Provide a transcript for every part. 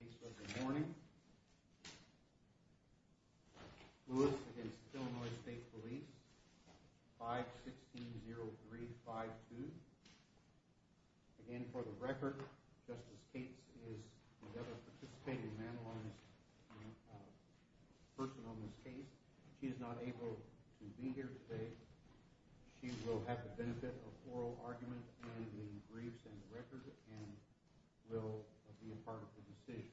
case of the morning. Lewis against Illinois State Police 516-0352. Again, for the record, Justice Cates is the other participating man aligned person on this case. She is not able to be here today. She will have the benefit of oral argument and the briefs and the record and will be a part of decision.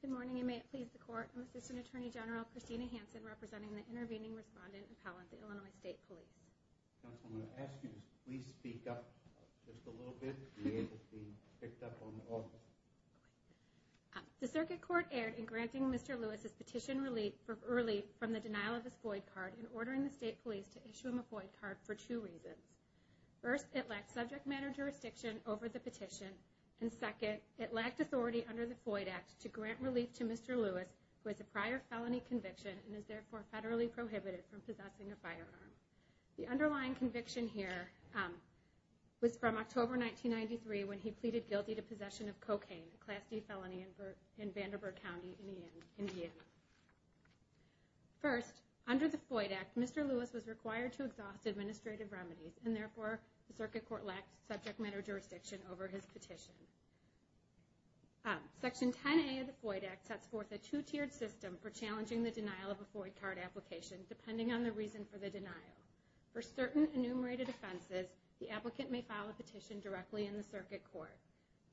Good morning. You may please the court. I'm Assistant Attorney General Christina Hanson, representing the intervening respondent appellant, Illinois State Police. Please speak up picked up on the circuit court and granting Mr. Lewis's petition relief early from the denial of this void card and ordering the state police to issue him a void card for two reasons. First, it lacks subject matter jurisdiction over the petition, and second, it lacked authority under the Floyd Act to grant relief to Mr. Lewis, who has a prior felony conviction and is therefore federally prohibited from possessing a firearm. The underlying conviction here, um, was from October 1993 when he pleaded guilty to possession of cocaine, a Class D felony in Vanderbilt County, Indiana. First, under the Floyd Act, Mr. Lewis was required to exhaust administrative remedies, and therefore the circuit court lacked subject matter jurisdiction over his petition. Section 10A of the Floyd Act sets forth a two-tiered system for challenging the denial of a void card application, depending on the reason for the denial. For certain enumerated offenses, the applicant may file a petition directly in the circuit court.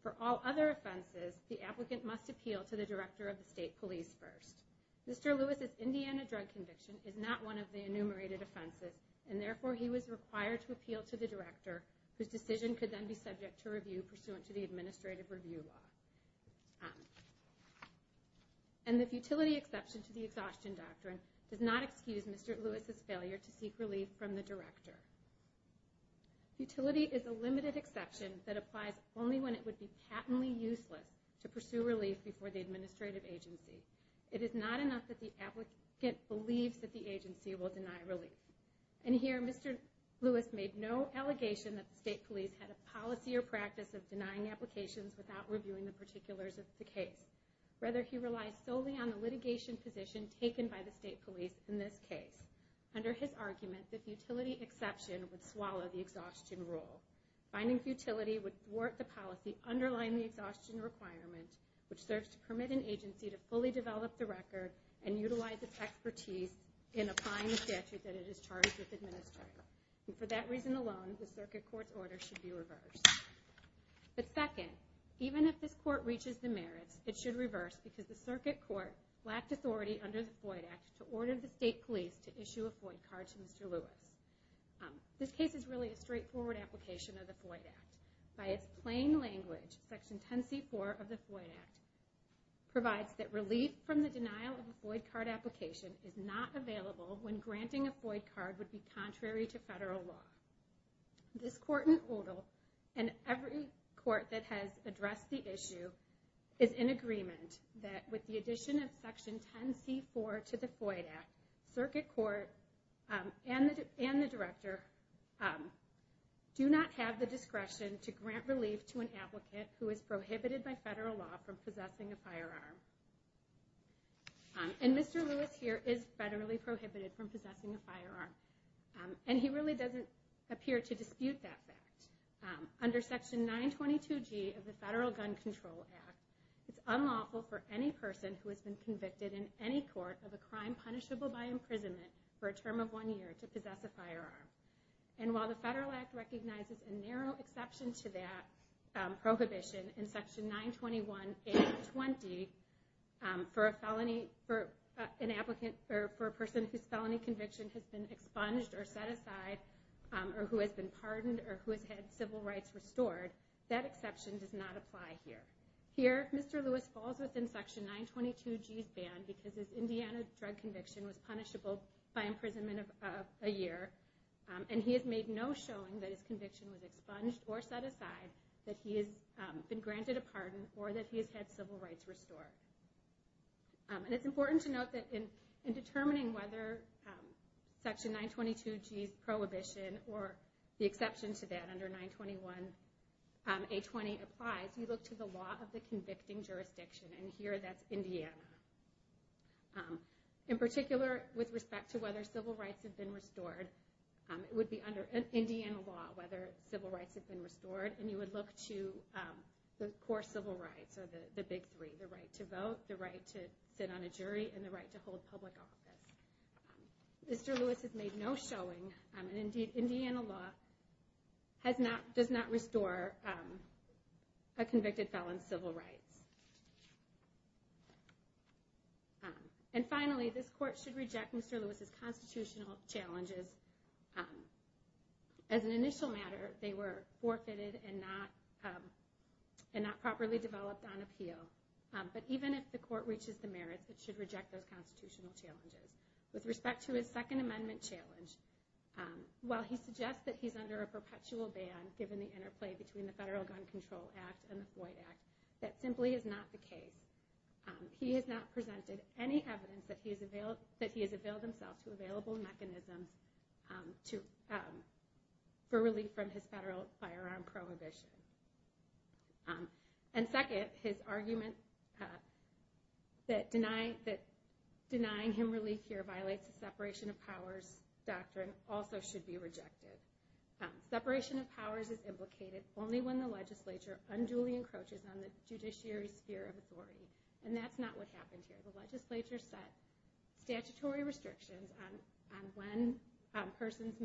For all other offenses, the applicant must appeal to the director of the state police first. Mr. Lewis's Indiana drug conviction is not one of the enumerated offenses, and therefore he was required to appeal to the director, whose decision could then be subject to review pursuant to the administrative review law. And the futility exception to the exhaustion doctrine does not excuse Mr. Lewis's denial of relief from the director. Futility is a limited exception that applies only when it would be patently useless to pursue relief before the administrative agency. It is not enough that the applicant believes that the agency will deny relief. And here, Mr. Lewis made no allegation that the state police had a policy or practice of denying applications without reviewing the particulars of the case. Rather, he relies solely on the litigation position taken by the state police in this case. Under his argument, the futility exception would swallow the exhaustion rule. Finding futility would thwart the policy underlying the exhaustion requirement, which serves to permit an agency to fully develop the record and utilize its expertise in applying the statute that it is charged with administering. And for that reason alone, the circuit court's order should be reversed. But second, even if this court reaches the merits, it should reverse because the circuit court lacked authority under the Floyd Act to order the state police to issue a Floyd card to Mr. Lewis. This case is really a straightforward application of the Floyd Act. By its plain language, Section 10 C4 of the Floyd Act provides that relief from the denial of a Floyd card application is not available when granting a Floyd card would be contrary to federal law. This court in total and every court that has addressed the issue is in agreement that with the addition of Section 10 C4 to the Floyd Act, circuit court and the director do not have the discretion to grant relief to an applicant who is prohibited by federal law from possessing a firearm. And Mr. Lewis here is federally prohibited from possessing a firearm. And he really doesn't appear to dispute that fact. Under Section 922 G of the Federal Gun Control Act, it's unlawful for any person who has been punishable by imprisonment for a term of one year to possess a firearm. And while the Federal Act recognizes a narrow exception to that prohibition in Section 921 A20 for a person whose felony conviction has been expunged or set aside or who has been pardoned or who has had civil rights restored, that exception does not apply here. Here, Mr. Lewis falls within Section 922 G's prohibition because his Indiana drug conviction was punishable by imprisonment of a year. And he has made no showing that his conviction was expunged or set aside, that he has been granted a pardon or that he has had civil rights restored. And it's important to note that in determining whether Section 922 G's prohibition or the exception to that under 921 A20 applies, you look to the law of the convicting jurisdiction. And here, that's Indiana. In particular, with respect to whether civil rights have been restored, it would be under Indiana law whether civil rights have been restored. And you would look to the core civil rights or the big three, the right to vote, the right to sit on a jury, and the right to hold public office. Mr. Lewis has made no showing, and Indiana law does not restore a convicted felon's civil rights. And finally, this court should reject Mr. Lewis's constitutional challenges. As an initial matter, they were forfeited and not properly developed on appeal. But even if the court reaches the merits, it should reject those constitutional challenges. With respect to his Second Amendment challenge, while he suggests that he's under a perpetual ban given the interplay between the Federal Gun Control Act and the Floyd Act, that simply is not the case. He has not presented any evidence that he has availed himself to available mechanisms for relief from his federal firearm prohibition. And second, his argument that denying him relief here violates the separation of powers doctrine also should be rejected. Separation of powers is implicated only when the legislature unduly encroaches on the judiciary sphere of authority. And that's not what happened here. The legislature set statutory restrictions on when persons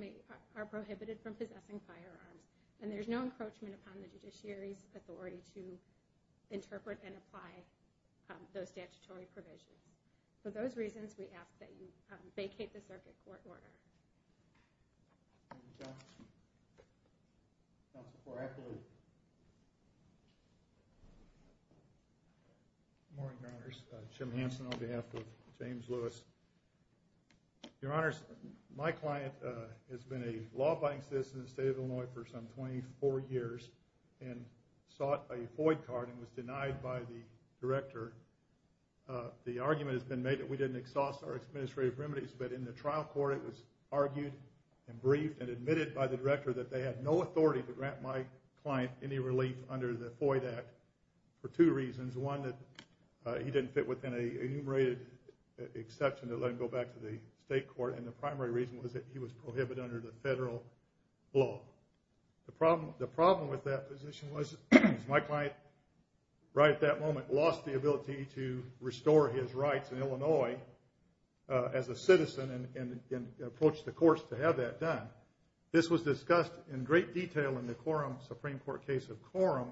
are prohibited from possessing firearms, and there's no encroachment upon the judiciary's authority to interpret and apply those statutory provisions. For those reasons, I would vacate this urgent court order. Morning, Your Honors. Jim Hansen on behalf of James Lewis. Your Honors, my client has been a law-abiding citizen in the state of Illinois for some 24 years and sought a void card and was denied by the director. The argument has been made that we didn't exhaust our administrative remedies, but in the trial court, it was argued and briefed and admitted by the director that they had no authority to grant my client any relief under the Floyd Act for two reasons. One, that he didn't fit within a enumerated exception to let him go back to the state court, and the primary reason was that he was prohibited under the federal law. The problem with that position was my client, right at that moment, lost the ability to restore his rights in Illinois as a citizen and approached the courts to have that done. This was discussed in great detail in the Supreme Court case of Coram,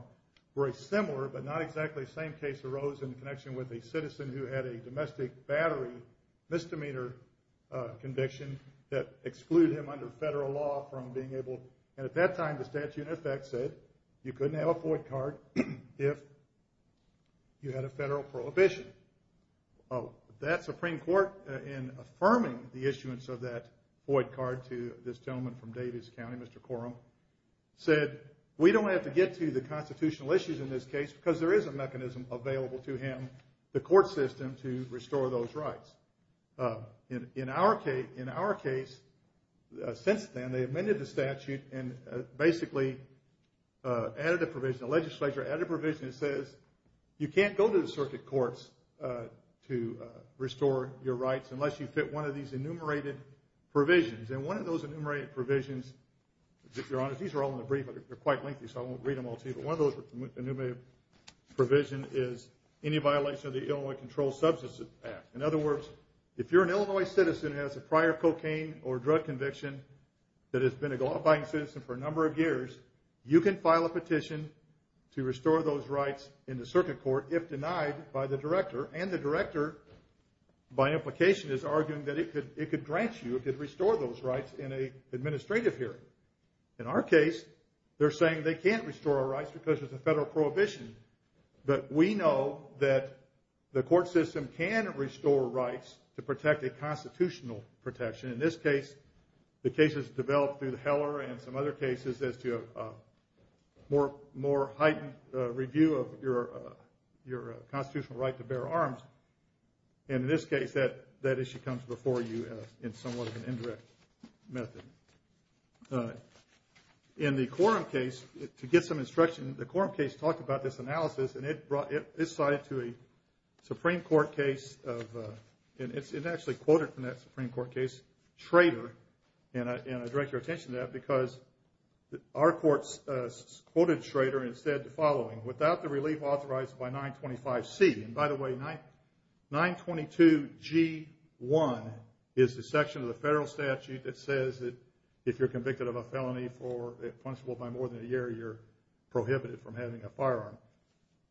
where a similar but not exactly the same case arose in connection with a citizen who had a domestic battery misdemeanor conviction that excluded him under federal law from being able, and at that time, the statute in effect said, you couldn't have a void card if you had a federal prohibition. That Supreme Court, in affirming the issuance of that void card to this gentleman from Davis County, Mr. Coram, said, we don't have to get to the constitutional issues in this case because there is a mechanism available to him, the court system, to restore those rights. In our case, since then, they amended the statute and basically added a provision, a legislature added a provision that says, you can't go to the circuit courts to restore your rights unless you fit one of these enumerated provisions. And one of those enumerated provisions, if you're honest, these are all in the brief, but they're quite lengthy, so I won't read them all to you, but one of those enumerated provisions is any violation of the Illinois Controlled Substances Act. In other words, if you're an Illinois citizen who has a prior cocaine or drug conviction that has been a qualifying citizen for a number of years, you can file a petition to restore those rights in the circuit court if denied by the director, and the director, by implication, is arguing that it could grant you, it could restore those rights in an administrative hearing. In our case, they're saying they can't restore our rights because there's a federal prohibition, but we know that the court system can restore rights to protect a constitutional protection. In this case, the case has developed through the Heller and some other cases as to a more heightened review of your constitutional right to bear arms. And in this case, that issue comes before you in somewhat of an indirect method. In the Quorum case, to get some instruction, the Quorum case talked about this analysis, and it brought, it cited to a Supreme Court case of, and it's actually quoted from that Supreme Court case, Schrader, and I direct your attention to that because our courts quoted Schrader and said the following, without the relief authorized by 925C, and by the way, 922G1 is the section of the federal statute that says that if you're convicted of a felony for, if punishable by more than a year, you're prohibited from having a firearm.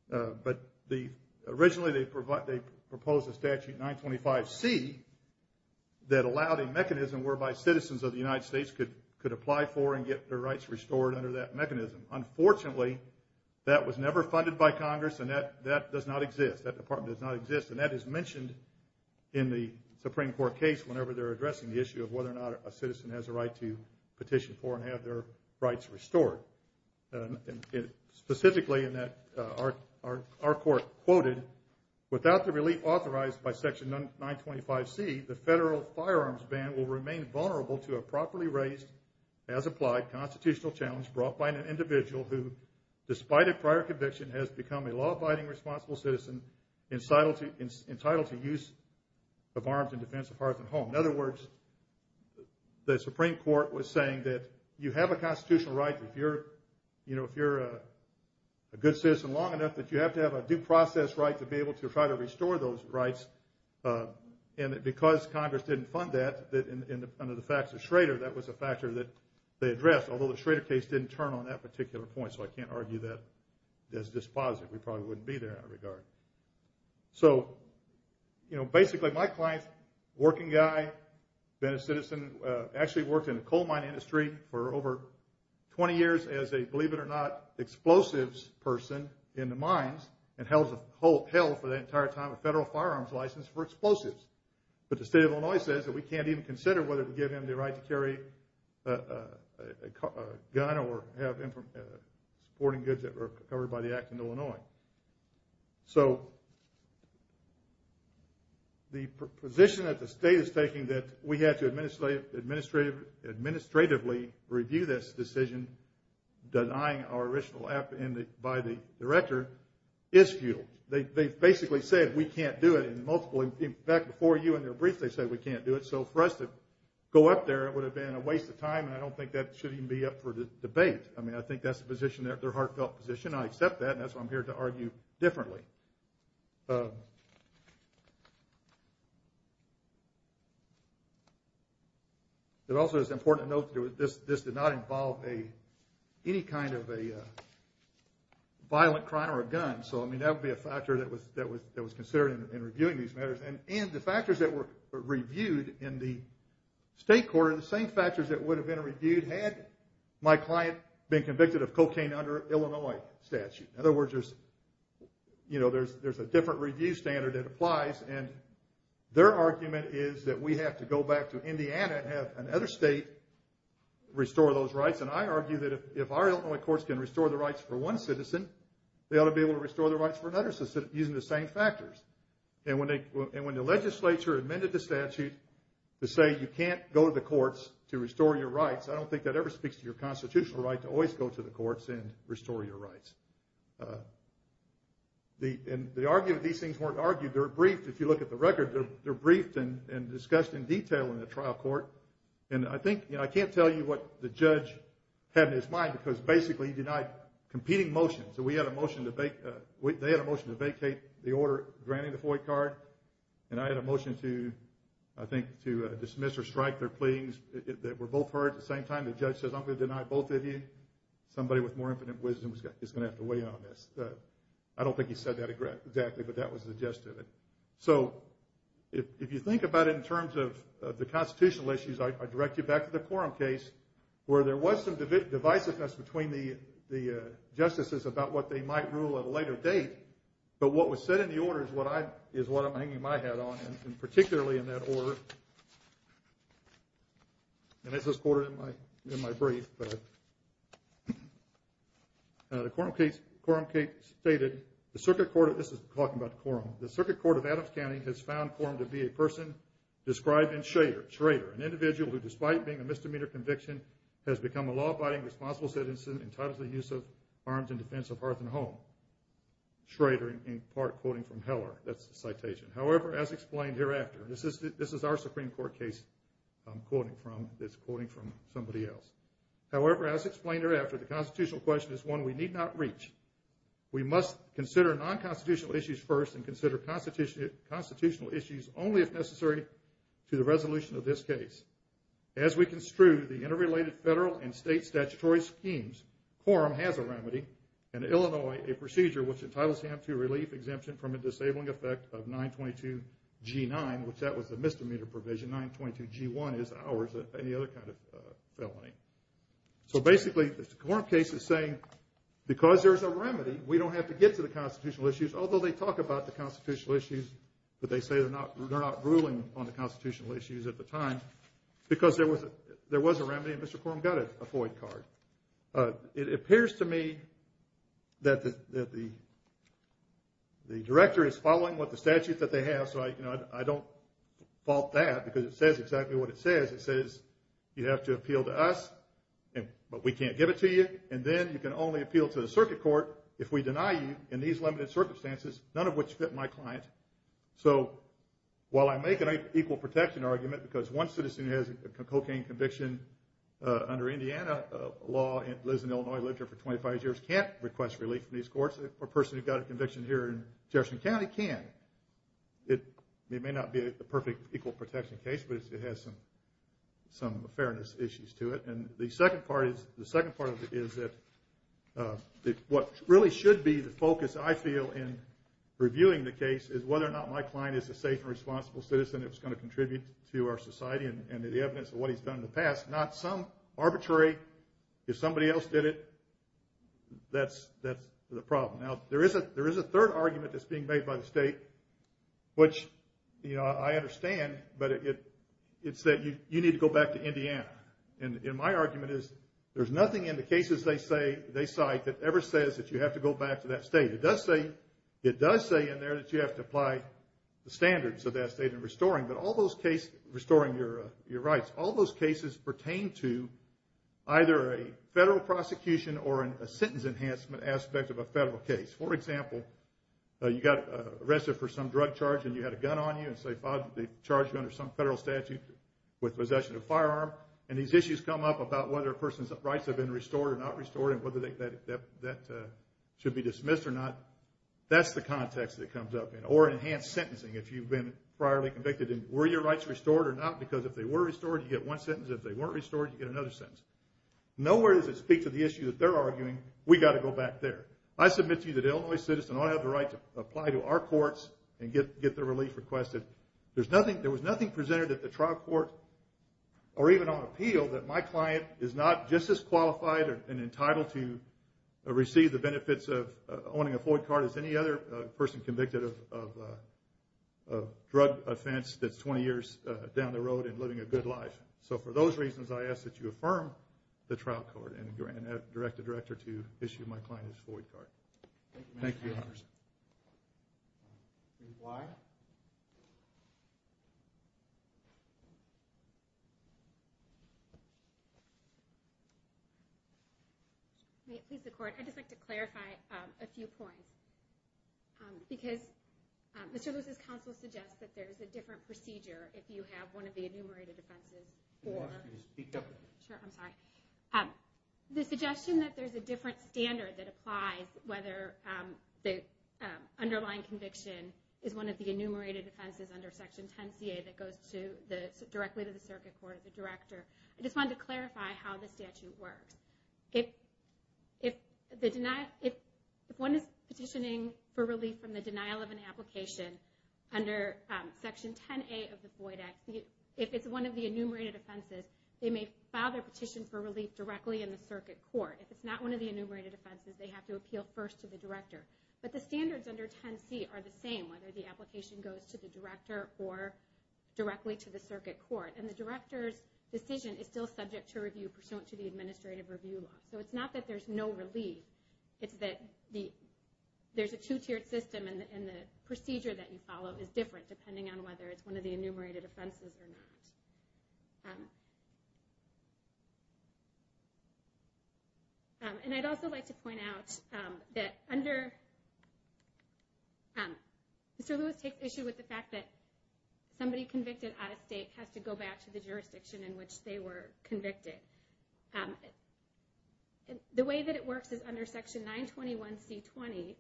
But the, originally they proposed a statute, 925C, that allowed a mechanism whereby citizens of the United States could apply for and get their rights restored under that mechanism. Unfortunately, that was never funded by Congress, and that does not exist. That department does not exist, and that is mentioned in the Supreme Court case whenever they're addressing the issue of whether or not a citizen has a right to petition for and have their rights restored. Specifically in that, our court quoted, without the relief authorized by section 925C, the federal firearms ban will remain vulnerable to a properly raised, as applied, constitutional challenge brought by an individual who, despite a prior conviction, has become a law-abiding responsible citizen entitled to use of arms in defense of hearth and home. In other words, the Supreme Court was saying that you have a constitutional right, if you're, you know, if you're a good citizen long enough, that you have to have a due process right to be able to try to restore those rights, and because Congress didn't fund that, under the facts of Schrader, that was a factor that they addressed, although the Schrader case didn't turn on that particular point, so I can't argue that as dispositive. We probably wouldn't be there in that regard. So, you know, basically my client, working guy, been a citizen, actually worked in the coal mine industry for over 20 years as a, believe it or not, explosives person in the mines, and held for the entire time a federal firearms license for explosives, but the state of Illinois says that we can't even consider whether we give him the right to carry a gun or have supporting goods that were covered by the act in Illinois. So, the position that the state is taking that we have to administratively review this decision denying our original act by the director is futile. They basically said we can't do it in multiple, in fact, before you in their brief, they said we can't do it, so for us to go up there, it would have been a waste of time, and I don't think that should even be up for debate. I mean, I think that's the position, their heartfelt position, and I accept that, and that's why I'm here to argue differently. It also is important to note that this did not involve any kind of a violent crime or a gun, so, I mean, that would be a factor that was considered in reviewing these matters, and the factors that were reviewed in the state court, the same factors that would have been reviewed had my client been convicted of cocaine under Illinois statute. In other words, there's a different review standard that applies, and their argument is that we have to go back to Indiana and have another state restore those rights, and I argue that if our Illinois courts can restore the rights for one citizen, they ought to be able to restore the rights for another citizen using the same factors, and when the legislature amended the statute to say you can't go to the courts to restore your rights, I don't think that ever speaks to your constitutional right to always go to the courts and restore your rights. The argument, these things weren't argued, they were briefed, if you look at the record, they're briefed and discussed in detail in the trial court, and I think, I can't tell you what the judge had in his mind, because basically he denied competing motions, so we had a motion, they had a motion to vacate the order granting the FOIA card, and I had a motion to, I think, to dismiss or strike their pleadings that were both heard at the same time, the judge says, I'm going to deny both of you, somebody with more infinite wisdom is going to have to weigh on this. I don't think he said that exactly, but that was the gist of it. So, if you think about it in terms of the constitutional issues, I direct you back to the Quorum case, where there was some divisiveness between the justices about what they might rule at a later date, but what was said in the Quorum case, and this was quoted in my brief, the Quorum case stated, the Circuit Court, this is talking about the Quorum, the Circuit Court of Adams County has found Quorum to be a person described in Schrader, an individual who, despite being a misdemeanor conviction, has become a law-abiding responsible citizen entitled to the use of arms in defense of hearth and home. Schrader, in part, quoting from Heller, that's the citation. However, as explained thereafter, the constitutional question is one we need not reach. We must consider non-constitutional issues first and consider constitutional issues only if necessary to the resolution of this case. As we construe the interrelated federal and state statutory schemes, Quorum has a remedy, and Illinois, a procedure which entitles him to relief exemption from a disabling effect of 922 G9, which that was the misdemeanor provision, 922 G1 is ours, any other kind of felony. So basically, the Quorum case is saying, because there's a remedy, we don't have to get to the constitutional issues, although they talk about the constitutional issues, but they say they're not ruling on the constitutional issues at the time, because there was a remedy and Mr. Quorum got a FOIA card. It appears to me that the Director is following what the statute that they have, so I don't fault that, because it says you have to appeal to us, but we can't give it to you, and then you can only appeal to the Circuit Court if we deny you in these limited circumstances, none of which fit my client. So while I make an equal protection argument, because one citizen has a cocaine conviction under Indiana law and lives in Illinois, lived here for 25 years, can't request relief from these courts, a person who got a conviction here in Jefferson County can. It may not be the perfect equal protection case, but it has some fairness issues to it, and the second part is that what really should be the focus, I feel, in reviewing the case is whether or not my client is a safe and responsible citizen that's going to contribute to our society and the evidence of what he's done in the past, not some arbitrary, if somebody else did it, that's the problem. Now, there is a third argument that's being made by the stand, but it's that you need to go back to Indiana, and my argument is there's nothing in the cases they cite that ever says that you have to go back to that state. It does say in there that you have to apply the standards of that state in restoring, but all those cases, restoring your rights, all those cases pertain to either a federal prosecution or a sentence enhancement aspect of a federal case. For example, you got arrested for some drug charge, and you had a gun on you, and say, they charged you under some federal statute with possession of a firearm, and these issues come up about whether a person's rights have been restored or not restored, and whether that should be dismissed or not. That's the context that comes up, or enhanced sentencing, if you've been priorly convicted. Were your rights restored or not? Because if they were restored, you get one sentence. If they weren't restored, you get another sentence. Nowhere does it speak to the issue that they're arguing, we got to go back there. I submit to you that Illinois citizens ought to have the right to apply to our courts and get the relief requested. There was nothing presented at the trial court, or even on appeal, that my client is not just as qualified and entitled to receive the benefits of owning a Floyd card as any other person convicted of a drug offense that's 20 years down the road and living a good life. So for those reasons, I ask that you affirm the trial court and direct the director to issue my sentencing orders. Reply? May it please the court, I'd just like to clarify a few points. Because Mr. Lewis' counsel suggests that there's a different procedure if you have one of the enumerated offenses for... You asked me to speak up. Sure, I'm sorry. The suggestion that there's a different standard that underlying conviction is one of the enumerated offenses under Section 10CA that goes directly to the circuit court or the director. I just wanted to clarify how the statute works. If one is petitioning for relief from the denial of an application under Section 10A of the Floyd Act, if it's one of the enumerated offenses, they may file their petition for relief directly in the circuit court. If it's not one of the enumerated offenses, they have to appeal first to the circuit court. The standards under 10C are the same whether the application goes to the director or directly to the circuit court. And the director's decision is still subject to review pursuant to the administrative review law. So it's not that there's no relief, it's that there's a two-tiered system and the procedure that you follow is different depending on whether it's one of the enumerated offenses or not. And I'd also like to point out that Mr. Lewis takes issue with the fact that somebody convicted out of state has to go back to the jurisdiction in which they were convicted. The way that it works is under Section 921C20,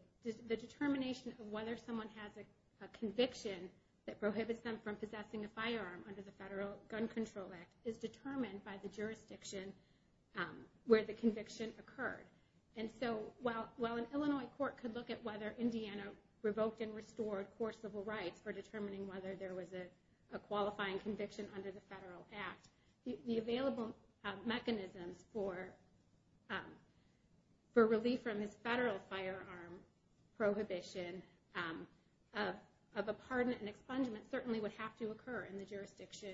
the determination of whether someone has a conviction that prohibits them from possessing a firearm under the Federal Gun Control Act is determined by the jurisdiction where the conviction occurred. And so while an Illinois court could look at whether Indiana revoked and restored core civil rights for determining whether there was a qualifying conviction under the Federal Act, the available mechanisms for relief from this Federal firearm prohibition of a pardon and expungement certainly would have to occur in the jurisdiction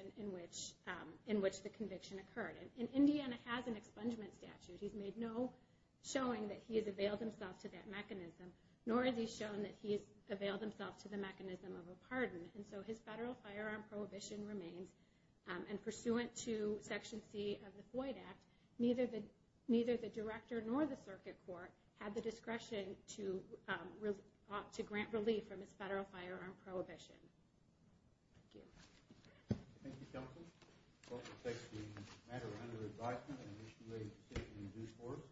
in which the conviction occurred. And Indiana has an expungement statute. He's made no showing that he's availed himself to that mechanism, nor has he shown that he's availed himself to the mechanism of a pardon. And so his Federal firearm prohibition remains. And pursuant to Section C of the FOID Act, neither the director nor the circuit court had the discretion to grant relief from his Federal firearm prohibition. Thank you. Thank you, Counsel. The court will take the matter under advisement and issue a decision in due course.